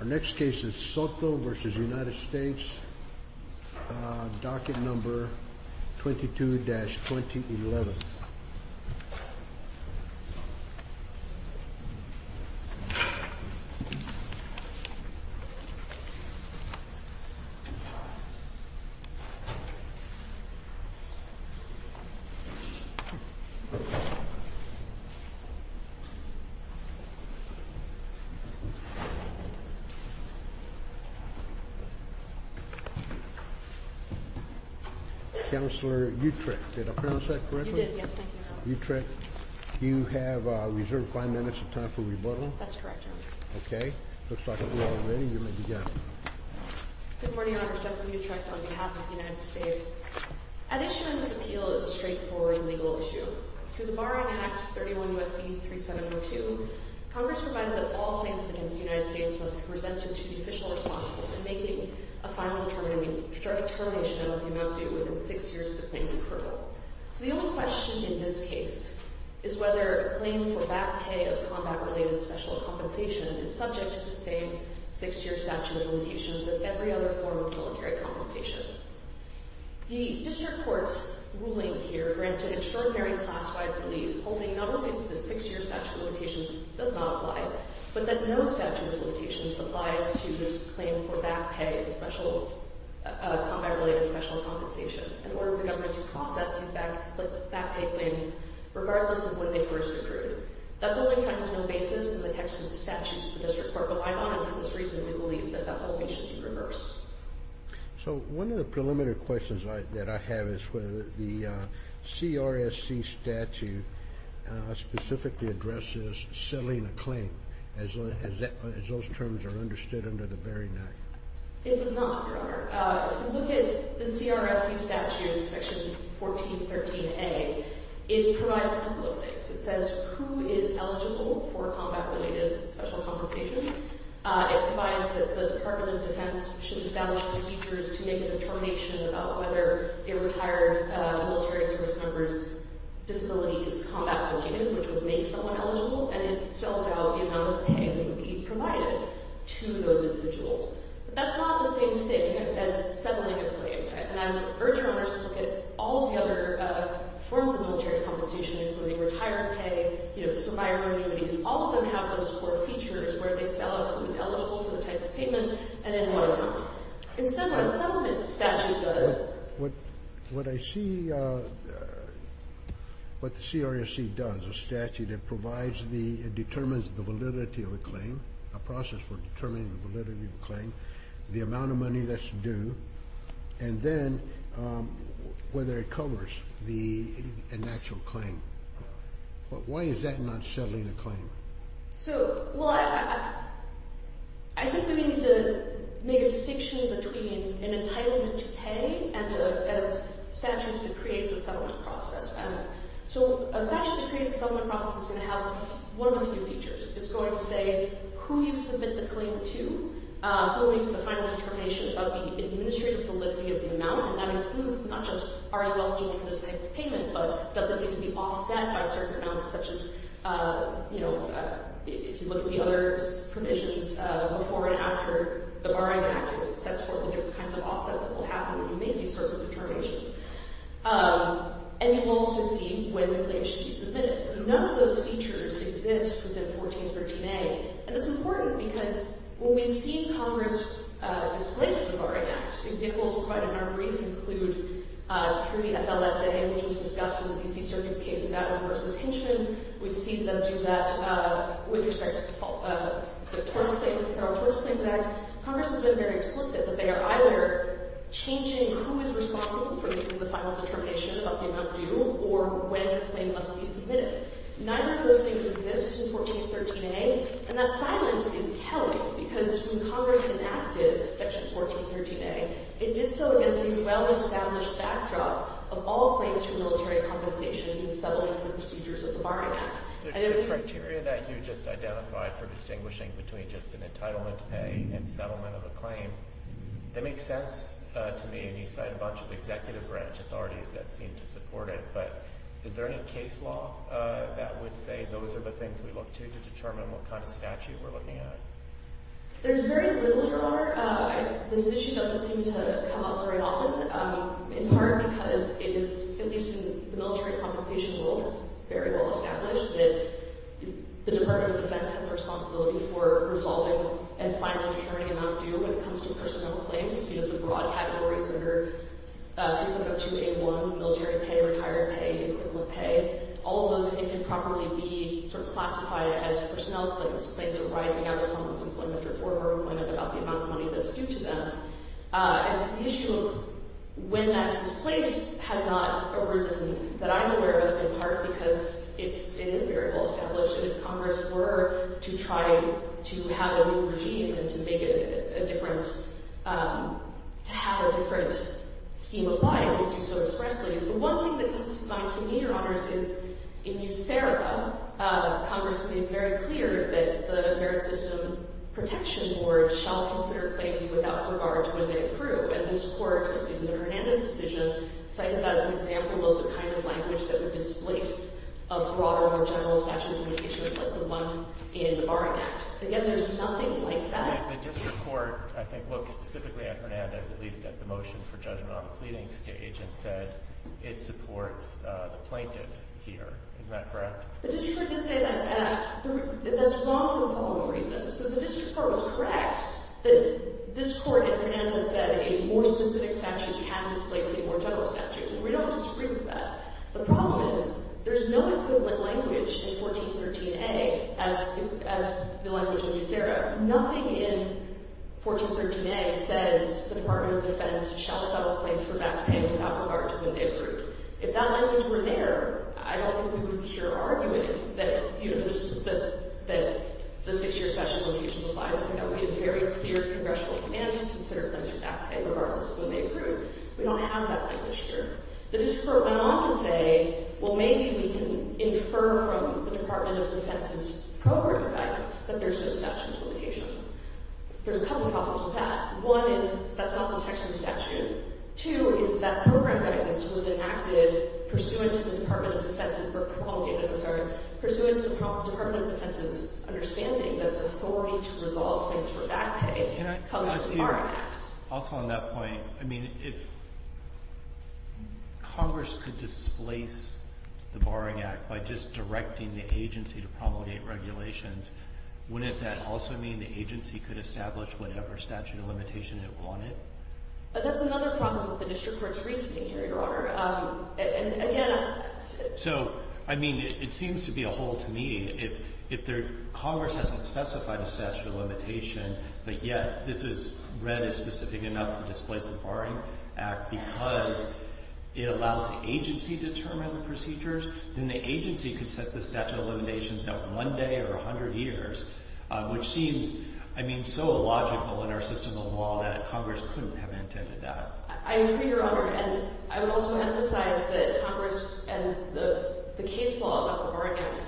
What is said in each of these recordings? Our next case is Soto v. United States, docket number 22-2011. Counselor Utrecht, did I pronounce that correctly? You did, yes. Thank you, Your Honor. Utrecht, you have reserved five minutes of time for rebuttal. That's correct, Your Honor. Okay. Looks like we're all ready. You may begin. Good morning, Your Honor. Stephanie Utrecht on behalf of the United States. Addition to this appeal is a straightforward legal issue. Through the Barring Act 31 U.S.C. 3702, Congress provided that all claims against the United States must be presented to the official responsible for making a final determination of the amount due within six years of the claim's approval. So the only question in this case is whether a claim for back pay of combat-related special compensation is subject to the same six-year statute of limitations as every other form of military compensation. The district court's ruling here granted extraordinary classified relief, holding not only that the six-year statute of limitations does not apply, but that no statute of limitations applies to this claim for back pay of special combat-related special compensation in order for the government to process these back pay claims regardless of when they first accrued. That ruling finds no basis in the text of the statute. The district court relied on it for this reason, and we believe that that whole thing should be reversed. So one of the preliminary questions that I have is whether the CRSC statute specifically addresses settling a claim as those terms are understood under the Barring Act. It does not, Your Honor. If you look at the CRSC statute, section 1413A, it provides a couple of things. It says who is eligible for combat-related special compensation. It provides that the Department of Defense should establish procedures to make a determination about whether a retired military service member's disability is combat-related, which would make someone eligible, and it sells out the amount of pay that would be provided to those individuals. But that's not the same thing as settling a claim. And I would urge Your Honors to look at all of the other forms of military compensation, including retired pay, you know, survival annuities. All of them have those core features where they sell out who is eligible for the type of payment and then who are not. Instead of what a settlement statute does. What I see what the CRSC does, a statute, it provides the determines the validity of a claim, a process for determining the validity of a claim, the amount of money that's due, and then whether it covers an actual claim. But why is that not settling a claim? So, well, I think we need to make a distinction between an entitlement to pay and a statute that creates a settlement process. So a statute that creates a settlement process is going to have one of a few features. It's going to say who you submit the claim to, who makes the final determination about the administrative validity of the amount, and that includes not just are you eligible for this type of payment, but does it need to be offset by certain amounts such as, you know, if you look at the other provisions before and after the Barring Act, it sets forth the different kinds of offsets that will happen when you make these sorts of determinations. And you will also see when the claim should be submitted. None of those features exist within 1413A. And it's important because when we've seen Congress display the Barring Act, examples provided in our brief include tree FLSA, which was discussed in the D.C. Circuit's case, Battle v. Hinchman. We've seen them do that with respect to the Torts Claims Act. Congress has been very explicit that they are either changing who is responsible for making the final determination about the amount due or when the claim must be submitted. Neither of those things exist in 1413A, and that silence is telling because when Congress enacted Section 1413A, it did so against the well-established backdrop of all claims for military compensation in settling the procedures of the Barring Act. The criteria that you just identified for distinguishing between just an entitlement to pay and settlement of a claim, that makes sense to me, and you cite a bunch of executive branch authorities that seem to support it. But is there any case law that would say those are the things we look to to determine what kind of statute we're looking at? There's very little, Your Honor. This issue doesn't seem to come up very often, in part because it is, at least in the military compensation world, it's very well-established that the Department of Defense has the responsibility for resolving and finally determining the amount due when it comes to personnel claims. You have the broad categories that are 3702A1, military pay, retired pay, equipment pay. All of those, it can properly be sort of classified as personnel claims, claims arising out of someone's employment or former employment about the amount of money that's due to them. It's an issue of when that's disclosed has not arisen that I'm aware of, in part because it is very well-established, and if Congress were to try to have a new regime and to make it a different, to have a different scheme applied, it would do so expressly. The one thing that comes to mind to me, Your Honors, is in New Sereba, Congress made very clear that the Merit System Protection Board shall consider claims without regard to when they approve, and this Court, in the Hernandez decision, cited that as an example of the kind of language that would displace a broader or general statute of limitations like the one in the Barring Act. Again, there's nothing like that. The district court, I think, looked specifically at Hernandez, at least at the motion for judgment on the pleading stage, and said it supports the plaintiffs here. Isn't that correct? The district court did say that. That's wrong for the following reasons. So the district court was correct that this Court, in Hernandez, said a more specific statute can displace a more general statute. We don't disagree with that. The problem is there's no equivalent language in 1413A as the language in New Sereba. Nothing in 1413A says the Department of Defense shall settle claims for back pay without regard to when they approve. If that language were there, I don't think we would be here arguing that the six-year statute of limitations applies. I think that would be a very clear congressional command to consider claims for back pay regardless of when they approve. We don't have that language here. The district court went on to say, well, maybe we can infer from the Department of Defense's program guidance that there's no statute of limitations. There's a couple problems with that. One is that's not the text of the statute. Two is that program guidance was enacted pursuant to the Department of Defense's understanding that its authority to resolve claims for back pay comes from the Barring Act. Also on that point, I mean, if Congress could displace the Barring Act by just directing the agency to promulgate regulations, wouldn't that also mean the agency could establish whatever statute of limitation it wanted? But that's another problem with the district court's reasoning here, Your Honor. And again, I... So, I mean, it seems to be a hole to me. If Congress hasn't specified a statute of limitation, but yet this is read as specific enough to displace the Barring Act because it allows the agency to determine the procedures, then the agency could set the statute of limitations out one day or 100 years, which seems, I mean, so illogical in our system of law that Congress couldn't have intended that. I agree, Your Honor. And I would also emphasize that Congress and the case law about the Barring Act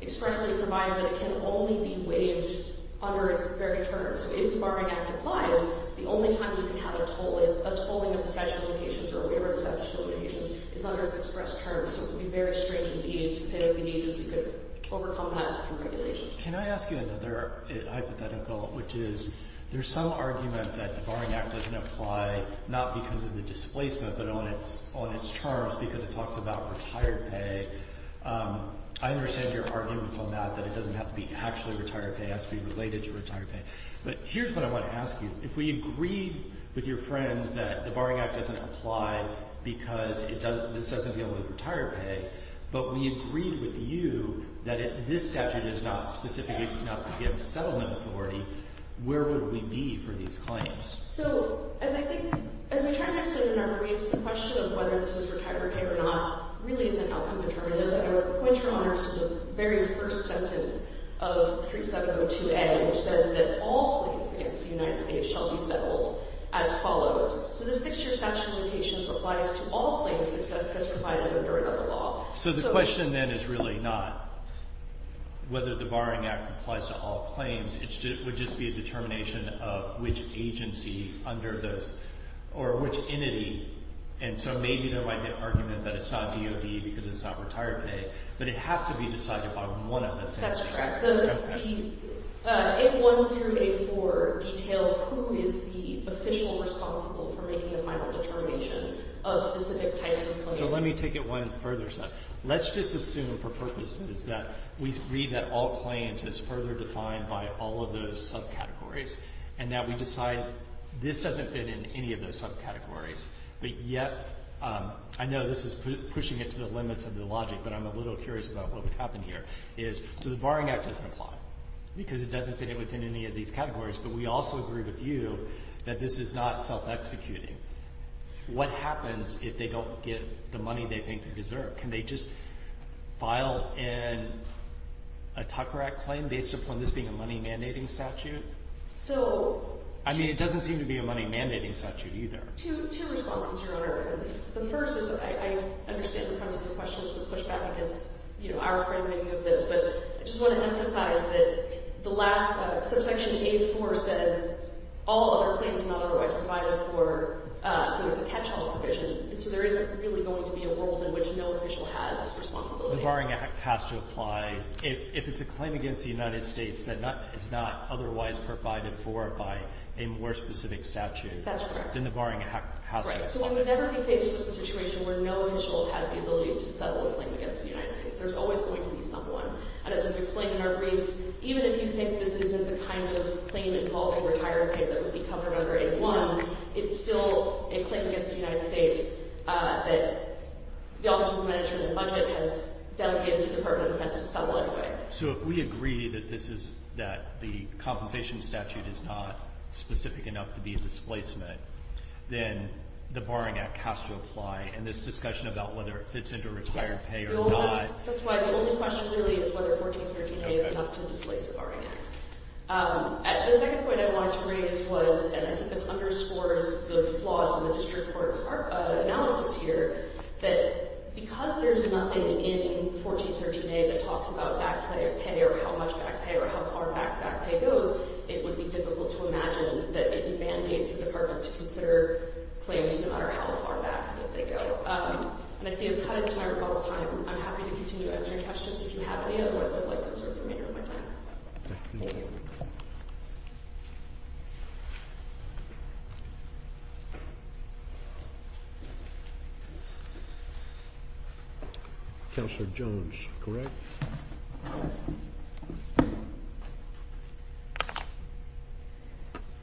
expressly provides that it can only be waived under its very terms. So if the Barring Act applies, the only time you can have a tolling of the statute of limitations or a waiver of the statute of limitations is under its express terms. So it would be very strange indeed to say that the agency could overcome that from regulations. Can I ask you another hypothetical, which is, there's some argument that the Barring Act doesn't apply not because of the displacement but on its terms because it talks about retired pay. I understand your arguments on that, that it doesn't have to be actually retired pay, it has to be related to retired pay. But here's what I want to ask you. If we agreed with your friends that the Barring Act doesn't apply because this doesn't deal with retired pay, but we agreed with you that this statute is not specific enough to give settlement authority, where would we be for these claims? So, as I think, as we try to explain in our briefs, the question of whether this is retired pay or not really is an outcome determinative. But I would point you, Your Honor, to the very first sentence of 3702A, which says that all claims against the United States shall be settled as follows. So the Six-Year Statute of Limitations applies to all claims except those provided under another law. So the question then is really not whether the Barring Act applies to all claims. It would just be a determination of which agency under those or which entity, and so maybe there might be an argument that it's not DOD because it's not retired pay, but it has to be decided by one of those entities. That's correct. The 8.1 through 8.4 detailed who is the official responsible for making the final determination of specific types of claims. So let me take it one further step. Let's just assume for purposes that we agree that all claims is further defined by all of those subcategories and that we decide this doesn't fit in any of those subcategories, but yet I know this is pushing it to the limits of the logic, but I'm a little curious about what would happen here, so the Barring Act doesn't apply because it doesn't fit in within any of these categories, but we also agree with you that this is not self-executing. What happens if they don't get the money they think they deserve? Can they just file in a Tucker Act claim based upon this being a money mandating statute? I mean it doesn't seem to be a money mandating statute either. Two responses, Your Honor. The first is I understand the premise of the question is to push back against our framing of this, but I just want to emphasize that the last subsection 8.4 says all other claims not otherwise provided for, so it's a catch-all provision. So there isn't really going to be a world in which no official has responsibility. The Barring Act has to apply if it's a claim against the United States that is not otherwise provided for by a more specific statute. That's correct. Then the Barring Act has to apply. So we would never be faced with a situation where no official has the ability to settle a claim against the United States. There's always going to be someone, and as we've explained in our briefs, even if you think this isn't the kind of claim involving retired pay that would be covered under 8.1, it's still a claim against the United States that the Office of Management and Budget has dedicated to the Department of Defense to settle anyway. So if we agree that the compensation statute is not specific enough to be a displacement, then the Barring Act has to apply in this discussion about whether it fits into retired pay or not. Yes, that's why the only question really is whether 1413A is enough to displace the Barring Act. The second point I wanted to raise was, and I think this underscores the flaws in the district court's analysis here, that because there's nothing in 1413A that talks about back pay or how much back pay or how far back back pay goes, it would be difficult to imagine that it mandates the department to consider claims no matter how far back that they go. And I see you've cut into my rebuttal time. I'm happy to continue to answer questions if you have any, otherwise I'd like to observe the remainder of my time. Thank you. Counselor Jones, correct?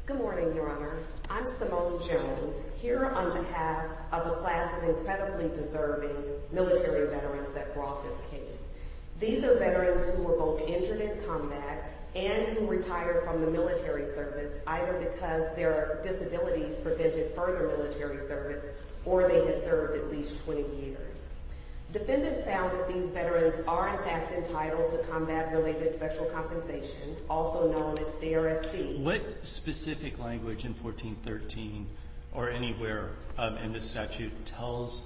Good morning, Your Honor. I'm Simone Jones, here on behalf of a class of incredibly deserving military veterans that brought this case. These are veterans who were both injured in combat and who retired from the military service, either because their disabilities prevented further military service or they had served at least 20 years. Defendant found that these veterans are in fact entitled to combat-related special compensation, also known as CRSC. What specific language in 1413 or anywhere in the statute tells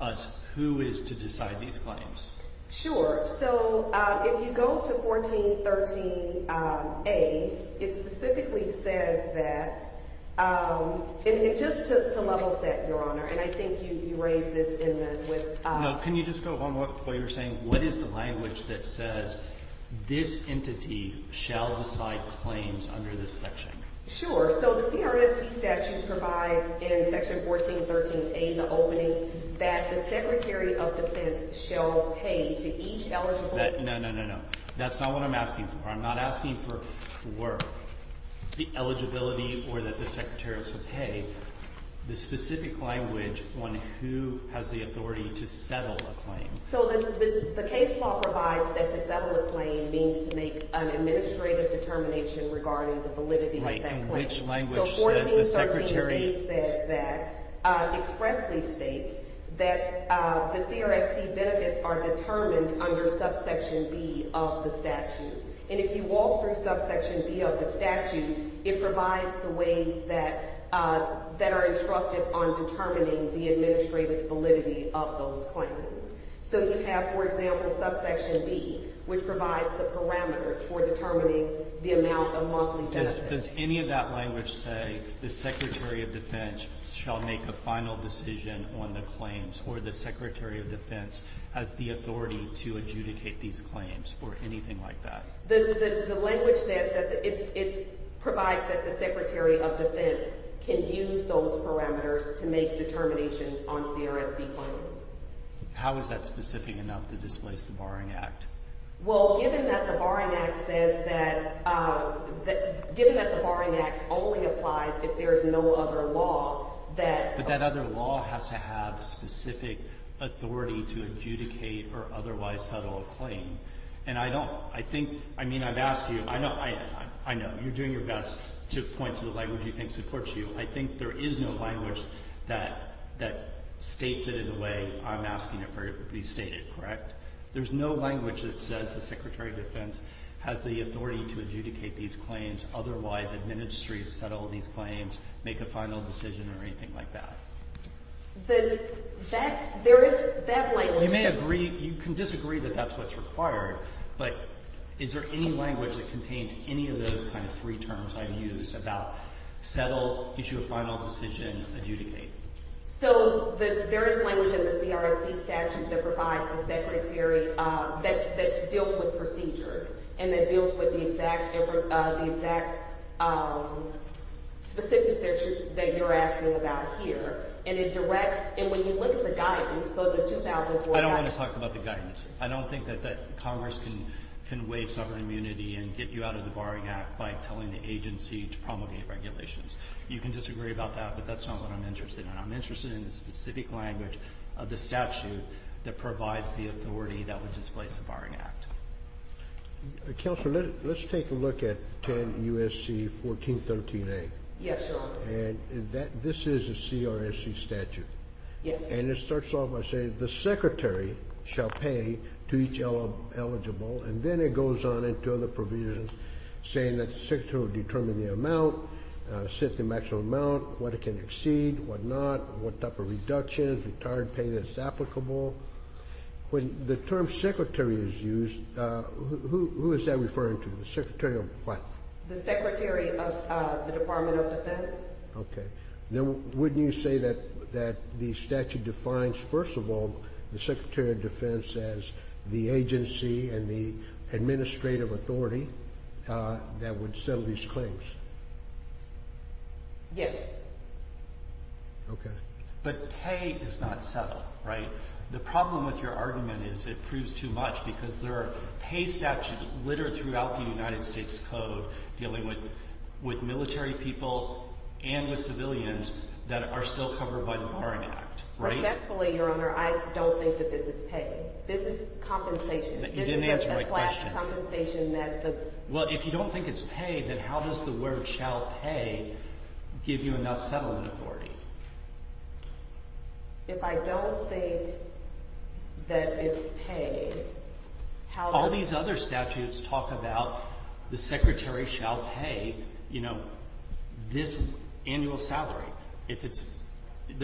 us who is to decide these claims? Sure. So if you go to 1413A, it specifically says that, just to level set, Your Honor, and I think you raised this in the – with – No, can you just go on what you were saying? What is the language that says this entity shall decide claims under this section? Sure. So the CRSC statute provides in Section 1413A, the opening, that the Secretary of Defense shall pay to each eligible – No, no, no, no. That's not what I'm asking for. I'm not asking for the work, the eligibility, or that the secretaries would pay. The specific language on who has the authority to settle a claim. So the case law provides that to settle a claim means to make an administrative determination regarding the validity of that claim. Right, and which language says the Secretary – So 1413A says that – expressly states that the CRSC benefits are determined under subsection B of the statute. And if you walk through subsection B of the statute, it provides the ways that are instructed on determining the administrative validity of those claims. So you have, for example, subsection B, which provides the parameters for determining the amount of monthly benefits. Does any of that language say the Secretary of Defense shall make a final decision on the claims, or the Secretary of Defense has the authority to adjudicate these claims, or anything like that? The language says that it provides that the Secretary of Defense can use those parameters to make determinations on CRSC claims. How is that specific enough to displace the Barring Act? Well, given that the Barring Act says that – given that the Barring Act only applies if there is no other law that – But that other law has to have specific authority to adjudicate or otherwise settle a claim. And I don't – I think – I mean, I've asked you – I know, you're doing your best to point to the language you think supports you. I think there is no language that states it in the way I'm asking it to be stated, correct? There's no language that says the Secretary of Defense has the authority to adjudicate these claims, otherwise administer, settle these claims, make a final decision, or anything like that? The – that – there is – that language – You may agree – you can disagree that that's what's required, but is there any language that contains any of those kind of three terms I've used about settle, issue a final decision, adjudicate? So there is language in the CRSC statute that provides the Secretary – that deals with procedures and that deals with the exact – the exact specifics that you're asking about here. And it directs – and when you look at the guidance, so the 2004 – I don't want to talk about the guidance. I don't think that Congress can waive sovereign immunity and get you out of the Barring Act by telling the agency to promulgate regulations. You can disagree about that, but that's not what I'm interested in. I'm interested in the specific language of the statute that provides the authority that would displace the Barring Act. Counselor, let's take a look at 10 U.S.C. 1413A. Yes, Your Honor. And that – this is a CRSC statute. Yes. And it starts off by saying the Secretary shall pay to each eligible, and then it goes on into other provisions saying that the Secretary will determine the amount, set the maximum amount, what it can exceed, what not, what type of reductions, retired pay that's applicable. When the term Secretary is used, who is that referring to, the Secretary of what? The Secretary of the Department of Defense. Yes. Okay. Then wouldn't you say that the statute defines, first of all, the Secretary of Defense as the agency and the administrative authority that would settle these claims? Yes. Okay. But pay is not settled, right? The problem with your argument is it proves too much because there are pay statutes littered throughout the United States Code dealing with military people and with civilians that are still covered by the Barring Act, right? Respectfully, Your Honor, I don't think that this is pay. This is compensation. You didn't answer my question. This is a class compensation that the – Well, if you don't think it's pay, then how does the word shall pay give you enough settlement authority? If I don't think that it's pay, how does – All these other statutes talk about the Secretary shall pay this annual salary. If it's –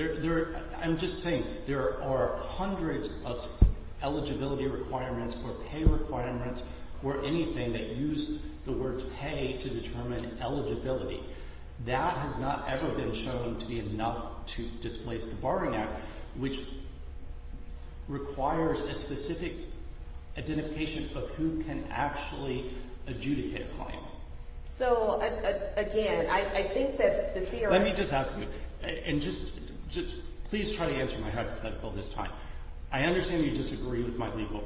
I'm just saying there are hundreds of eligibility requirements or pay requirements or anything that use the word pay to determine eligibility. That has not ever been shown to be enough to displace the Barring Act, which requires a specific identification of who can actually adjudicate a claim. So, again, I think that the CRS – Let me just ask you, and just please try to answer my hypothetical this time. I understand you disagree with my legal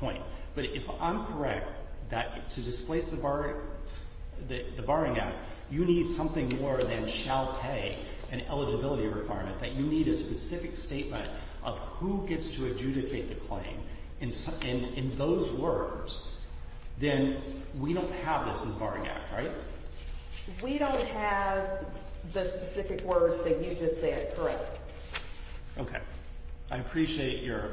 point, but if I'm correct that to displace the Barring Act, you need something more than shall pay, an eligibility requirement, that you need a specific statement of who gets to adjudicate the claim in those words, then we don't have this in the Barring Act, right? We don't have the specific words that you just said, correct. Okay. I appreciate your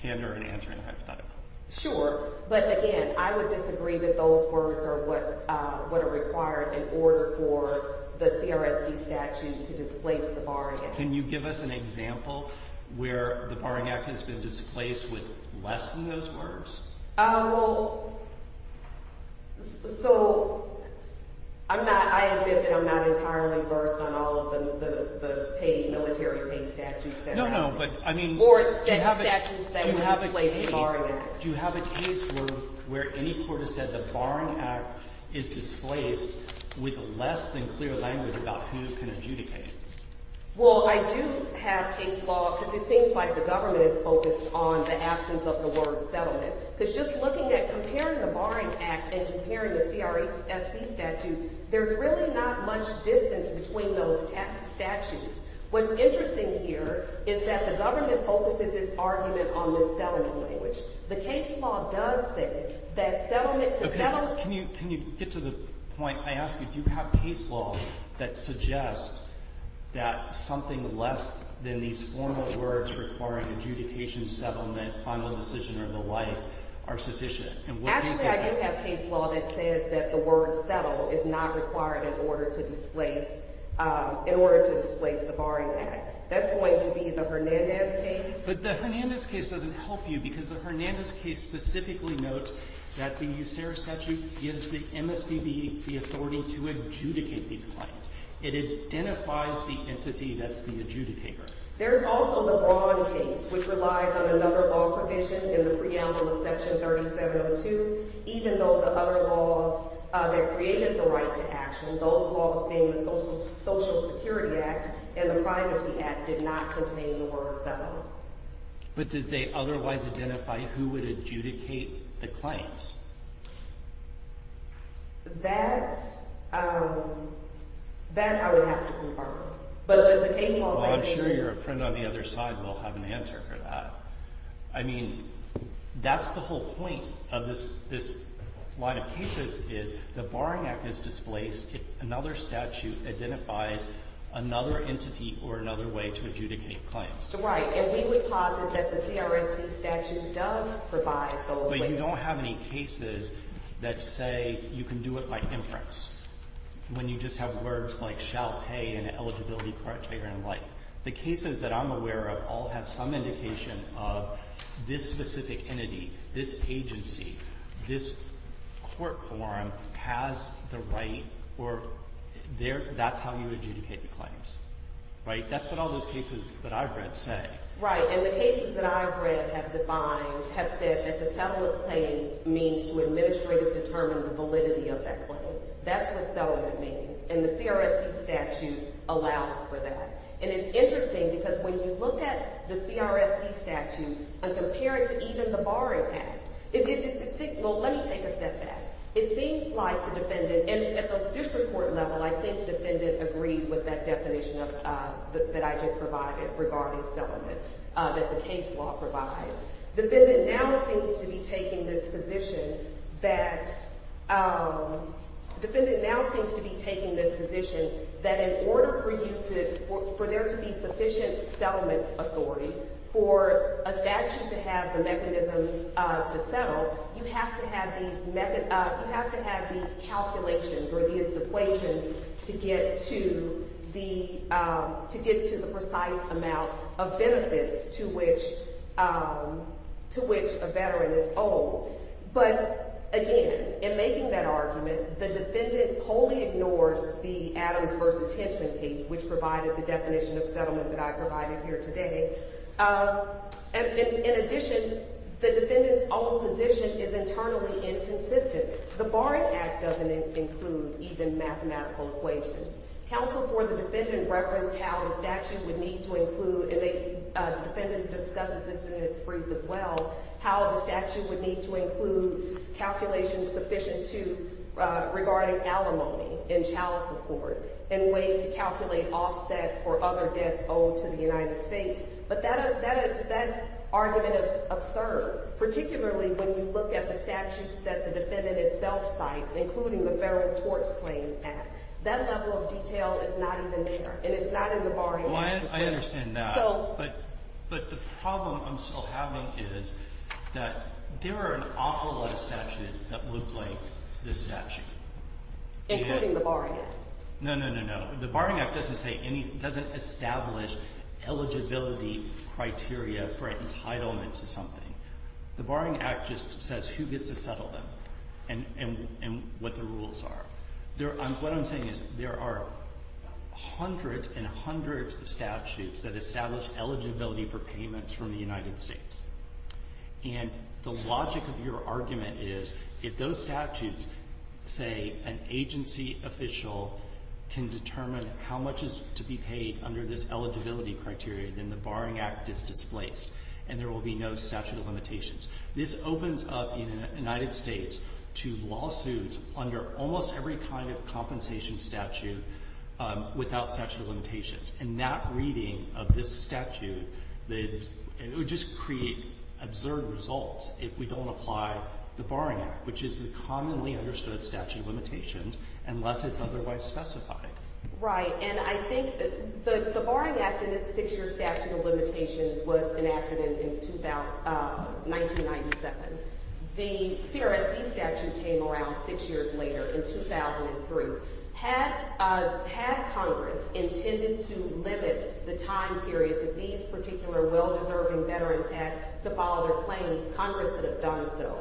candor in answering the hypothetical. Sure, but again, I would disagree that those words are what are required in order for the CRSC statute to displace the Barring Act. Can you give us an example where the Barring Act has been displaced with less than those words? Well, so I'm not – I admit that I'm not entirely versed on all of the military pay statutes that are out there. No, no, but I mean – Or the statutes that displace the Barring Act. Do you have a case where any court has said the Barring Act is displaced with less than clear language about who can adjudicate? Well, I do have case law because it seems like the government is focused on the absence of the word settlement. Because just looking at – comparing the Barring Act and comparing the CRSC statute, there's really not much distance between those statutes. What's interesting here is that the government focuses its argument on the settlement language. The case law does say that settlement – Can you get to the point – I ask you, do you have case law that suggests that something less than these formal words requiring adjudication, settlement, final decision, or the like are sufficient? Actually, I do have case law that says that the word settle is not required in order to displace – in order to displace the Barring Act. That's going to be the Hernandez case. But the Hernandez case doesn't help you because the Hernandez case specifically notes that the USERA statute gives the MSPB the authority to adjudicate these claims. It identifies the entity that's the adjudicator. There's also the Braun case, which relies on another law provision in the preamble of Section 3702. Even though the other laws that created the right to action, those laws being the Social Security Act and the Privacy Act, did not contain the word settlement. But did they otherwise identify who would adjudicate the claims? That's – that I would have to confirm. Well, I'm sure your friend on the other side will have an answer for that. I mean, that's the whole point of this line of cases is the Barring Act is displaced if another statute identifies another entity or another way to adjudicate claims. Right. And we would posit that the CRSC statute does provide those ways. But you don't have any cases that say you can do it by inference when you just have words like shall pay and eligibility criteria and the like. The cases that I'm aware of all have some indication of this specific entity, this agency, this court form has the right or that's how you adjudicate the claims. Right? That's what all those cases that I've read say. Right. And the cases that I've read have defined – have said that to settle a claim means to administratively determine the validity of that claim. That's what settlement means. And the CRSC statute allows for that. And it's interesting because when you look at the CRSC statute and compare it to even the Barring Act, it seems – well, let me take a step back. It seems like the defendant – and at the district court level, I think defendant agreed with that definition of – that I just provided regarding settlement that the case law provides. Defendant now seems to be taking this position that – defendant now seems to be taking this position that in order for you to – for there to be sufficient settlement authority, for a statute to have the mechanisms to settle, you have to have these – you have to have these calculations or these equations to get to the – to get to the precise amount of benefits to which – to which a veteran is owed. But again, in making that argument, the defendant wholly ignores the Adams v. Hinchman case, which provided the definition of settlement that I provided here today. In addition, the defendant's own position is internally inconsistent. The Barring Act doesn't include even mathematical equations. Counsel for the defendant referenced how the statute would need to include – and the defendant discusses this in its brief as well – how the statute would need to include calculations sufficient to – regarding alimony and chalice support and ways to calculate offsets or other debts owed to the United States. But that argument is absurd, particularly when you look at the statutes that the defendant itself cites, including the Federal Tort Claim Act. That level of detail is not even there, and it's not in the Barring Act as well. Well, I understand that. So – But the problem I'm still having is that there are an awful lot of statutes that look like this statute. Including the Barring Act. No, no, no, no. The Barring Act doesn't establish eligibility criteria for entitlement to something. The Barring Act just says who gets to settle them and what the rules are. What I'm saying is there are hundreds and hundreds of statutes that establish eligibility for payments from the United States. And the logic of your argument is if those statutes say an agency official can determine how much is to be paid under this eligibility criteria, then the Barring Act is displaced and there will be no statute of limitations. This opens up the United States to lawsuits under almost every kind of compensation statute without statute of limitations. And that reading of this statute, it would just create absurd results if we don't apply the Barring Act, which is the commonly understood statute of limitations, unless it's otherwise specified. Right. And I think the Barring Act in its six-year statute of limitations was enacted in 1997. The CRSC statute came around six years later in 2003. Had Congress intended to limit the time period that these particular well-deserving veterans had to follow their claims, Congress could have done so.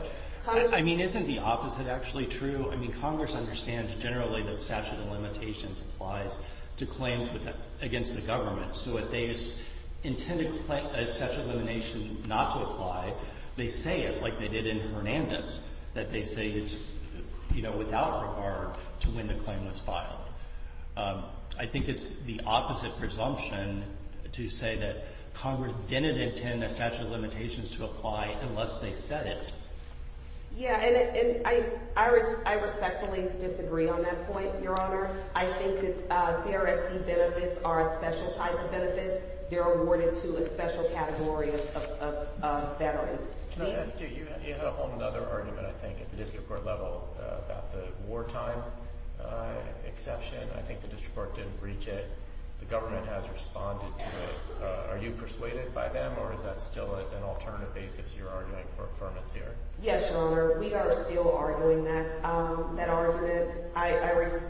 I mean, isn't the opposite actually true? I mean, Congress understands generally that statute of limitations applies to claims against the government. So if they intend a statute of limitation not to apply, they say it like they did in Hernandez, that they say it without regard to when the claim was filed. I think it's the opposite presumption to say that Congress didn't intend a statute of limitations to apply unless they said it. Yeah, and I respectfully disagree on that point, Your Honor. I think that CRSC benefits are a special type of benefits. They're awarded to a special category of veterans. Can I ask you? You had a whole other argument, I think, at the district court level about the wartime exception. I think the district court didn't reach it. The government has responded to it. Are you persuaded by them, or is that still an alternative basis you're arguing for affirmance here? Yes, Your Honor. We are still arguing that argument.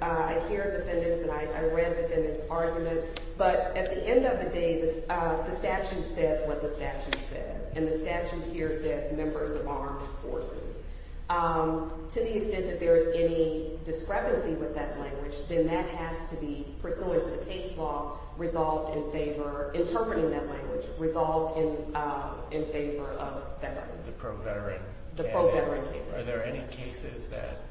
I hear defendants, and I read defendants' argument, but at the end of the day, the statute says what the statute says, and the statute here says members of armed forces. To the extent that there is any discrepancy with that language, then that has to be, pursuant to the case law, resolved in favor – interpreting that language – resolved in favor of veterans. The pro-veteran candidate. The pro-veteran candidate. Are there any cases that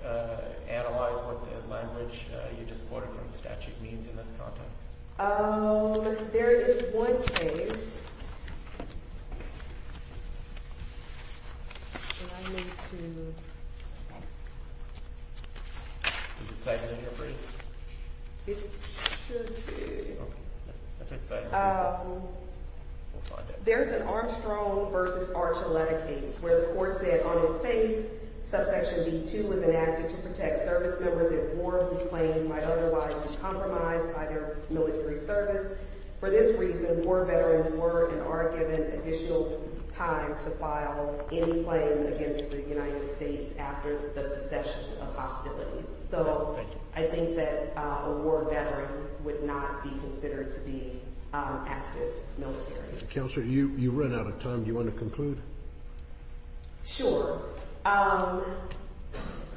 analyze what the language you just quoted from the statute means in this context? There is one case. There is an Armstrong v. Archer letter case where the court said, on its face, subsection B-2 was enacted to protect service members at war whose claims might otherwise be compromised by their military service. For this reason, war veterans were and are given additional time to file any claim against the United States after the secession of hostilities. So I think that a war veteran would not be considered to be active military. Counselor, you've run out of time. Do you want to conclude? Sure.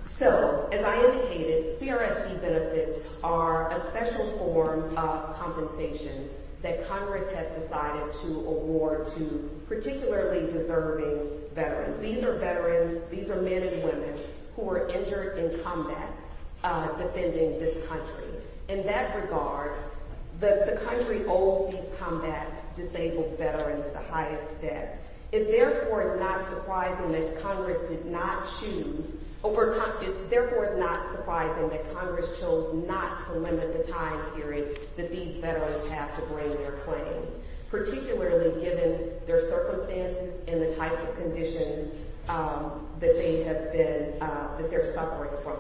So, as I indicated, CRSC benefits are a special form of compensation that Congress has decided to award to particularly deserving veterans. These are veterans. These are men and women who were injured in combat defending this country. In that regard, the country owes these combat disabled veterans the highest debt. It, therefore, is not surprising that Congress chose not to limit the time period that these veterans have to bring their claims, particularly given their circumstances and the types of conditions that they're suffering from.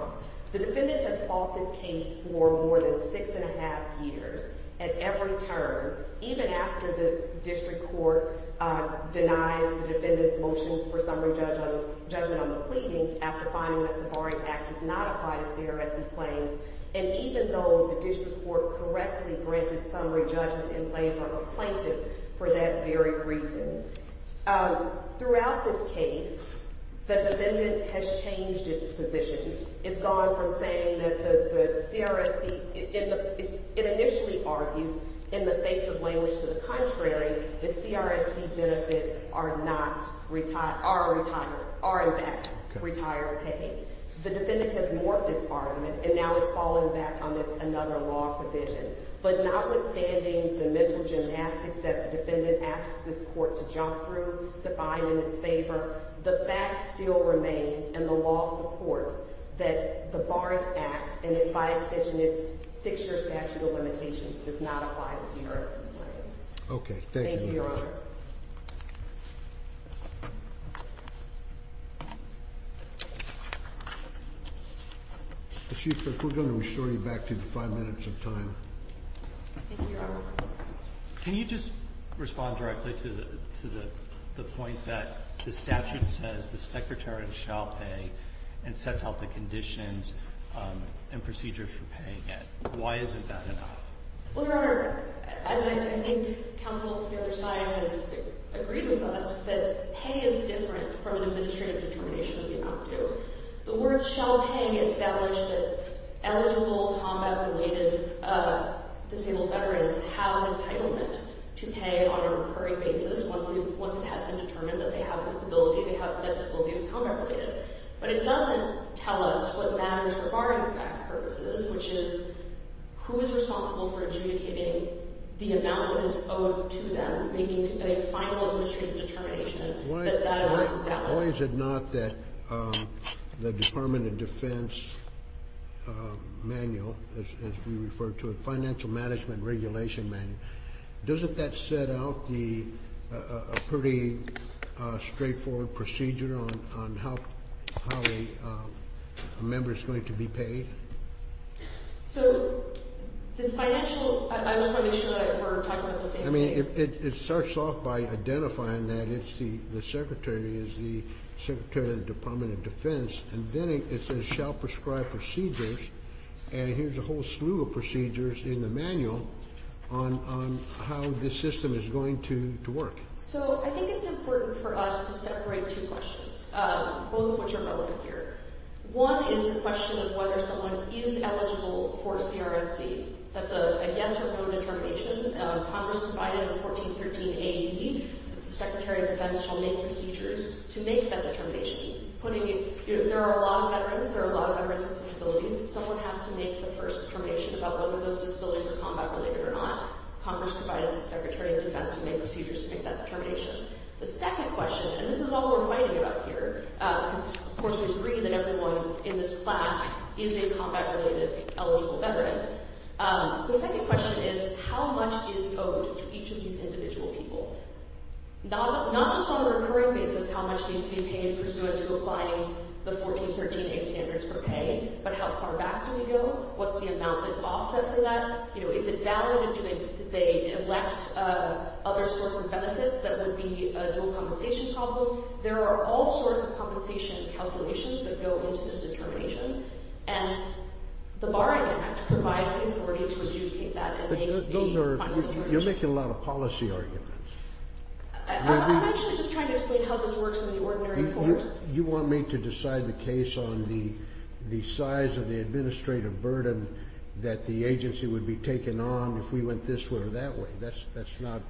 The defendant has fought this case for more than six and a half years at every turn, even after the district court denied the defendant's motion for summary judgment on the pleadings after finding that the Barring Act does not apply to CRSC claims, and even though the district court correctly granted summary judgment in favor of a plaintiff for that very reason. Throughout this case, the defendant has changed its positions. It's gone from saying that the CRSC, it initially argued in the face of language to the contrary, the CRSC benefits are not, are retired, are in fact retired pay. The defendant has morphed its argument, and now it's falling back on this another law provision. But notwithstanding the mental gymnastics that the defendant asks this court to jump through to find in its favor, the fact still remains and the law supports that the Barring Act, and by extension, its six-year statute of limitations does not apply to CRSC claims. Okay. Thank you, Your Honor. Chief, we're going to restore you back to five minutes of time. Can you just respond directly to the point that the statute says the secretary shall pay and sets out the conditions and procedures for paying it? Why isn't that enough? Well, Your Honor, as I think counsel on the other side has agreed with us, that pay is different from an administrative determination of the amount due. The words shall pay establish that eligible combat-related disabled veterans have entitlement to pay on a recurring basis once it has been determined that they have a disability, that disability is combat-related. But it doesn't tell us what matters for Barring Act purposes, which is who is responsible for adjudicating the amount that is owed to them, making a final administrative determination that that amount is that one. Why is it not that the Department of Defense manual, as we refer to it, financial management regulation manual, doesn't that set out a pretty straightforward procedure on how a member is going to be paid? So the financial, I was probably sure that we're talking about the same thing. I mean, it starts off by identifying that the secretary is the secretary of the Department of Defense, and then it says shall prescribe procedures, and here's a whole slew of procedures in the manual on how this system is going to work. So I think it's important for us to separate two questions, both of which are relevant here. One is the question of whether someone is eligible for CRSC. That's a yes or no determination. Congress provided in 1413 A.D. that the secretary of defense shall make procedures to make that determination. There are a lot of veterans. There are a lot of veterans with disabilities. Someone has to make the first determination about whether those disabilities are combat-related or not. Congress provided the secretary of defense to make procedures to make that determination. The second question, and this is all we're fighting about here because, of course, we agree that everyone in this class is a combat-related eligible veteran. The second question is how much is owed to each of these individual people? Not just on a recurring basis how much needs to be paid pursuant to applying the 1413 A standards for pay, but how far back do we go? What's the amount that's offset for that? Is it valid? Do they elect other sorts of benefits that would be a dual compensation problem? There are all sorts of compensation calculations that go into this determination, and the Borrowing Act provides the authority to adjudicate that and make the final determination. You're making a lot of policy arguments. I'm actually just trying to explain how this works in the ordinary course. You want me to decide the case on the size of the administrative burden that the agency would be taking on if we went this way or that way. That's not…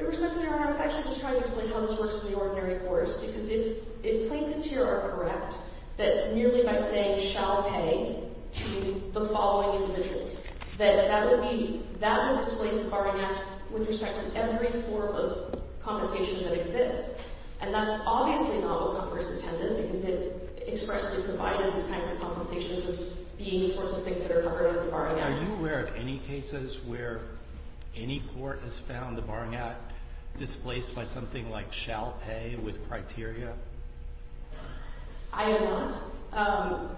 Respectfully, Your Honor, I was actually just trying to explain how this works in the ordinary course because if plaintiffs here are correct that merely by saying shall pay to the following individuals, that would displace the Borrowing Act with respect to every form of compensation that exists. And that's obviously not what Congress intended because it expressly provided these kinds of compensations as being the sorts of things that are covered under the Borrowing Act. Are you aware of any cases where any court has found the Borrowing Act displaced by something like shall pay with criteria? I am not.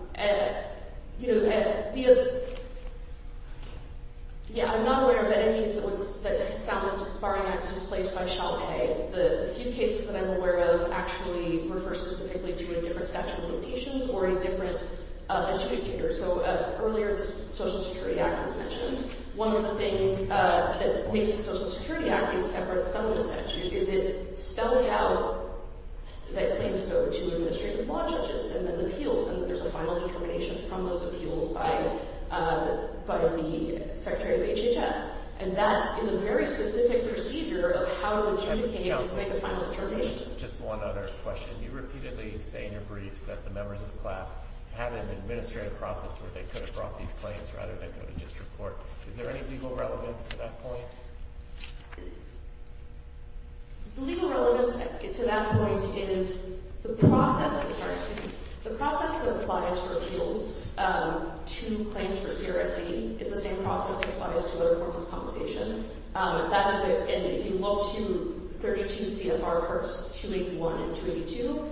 Yeah, I'm not aware of any cases that found the Borrowing Act displaced by shall pay. The few cases that I'm aware of actually refer specifically to a different statute of limitations or a different adjudicator. So earlier, the Social Security Act was mentioned. One of the things that makes the Social Security Act a separate subject statute is it spells out that claims go to administrative law judges and then appeals and there's a final determination from those appeals by the Secretary of HHS. And that is a very specific procedure of how an adjudicator makes a final determination. Just one other question. You repeatedly say in your briefs that the members of the class have an administrative process where they could have brought these claims rather than just report. Is there any legal relevance to that point? The legal relevance to that point is the process that applies for appeals to claims for CRSE is the same process that applies to other forms of compensation. And if you look to 32 CFR parts 281 and 282,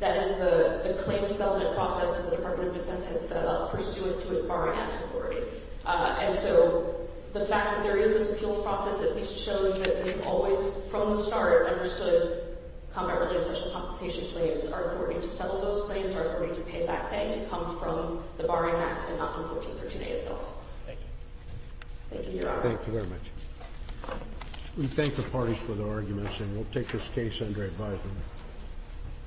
that is the claim settlement process that the Department of Defense has set up pursuant to its Borrowing Act authority. And so the fact that there is this appeals process at least shows that we've always, from the start, understood combat-related social compensation claims are authority to settle those claims, are authority to pay back bank to come from the Borrowing Act and not from 1413A itself. Thank you. Thank you, Your Honor. Thank you very much. We thank the parties for their arguments, and we'll take this case under advisement.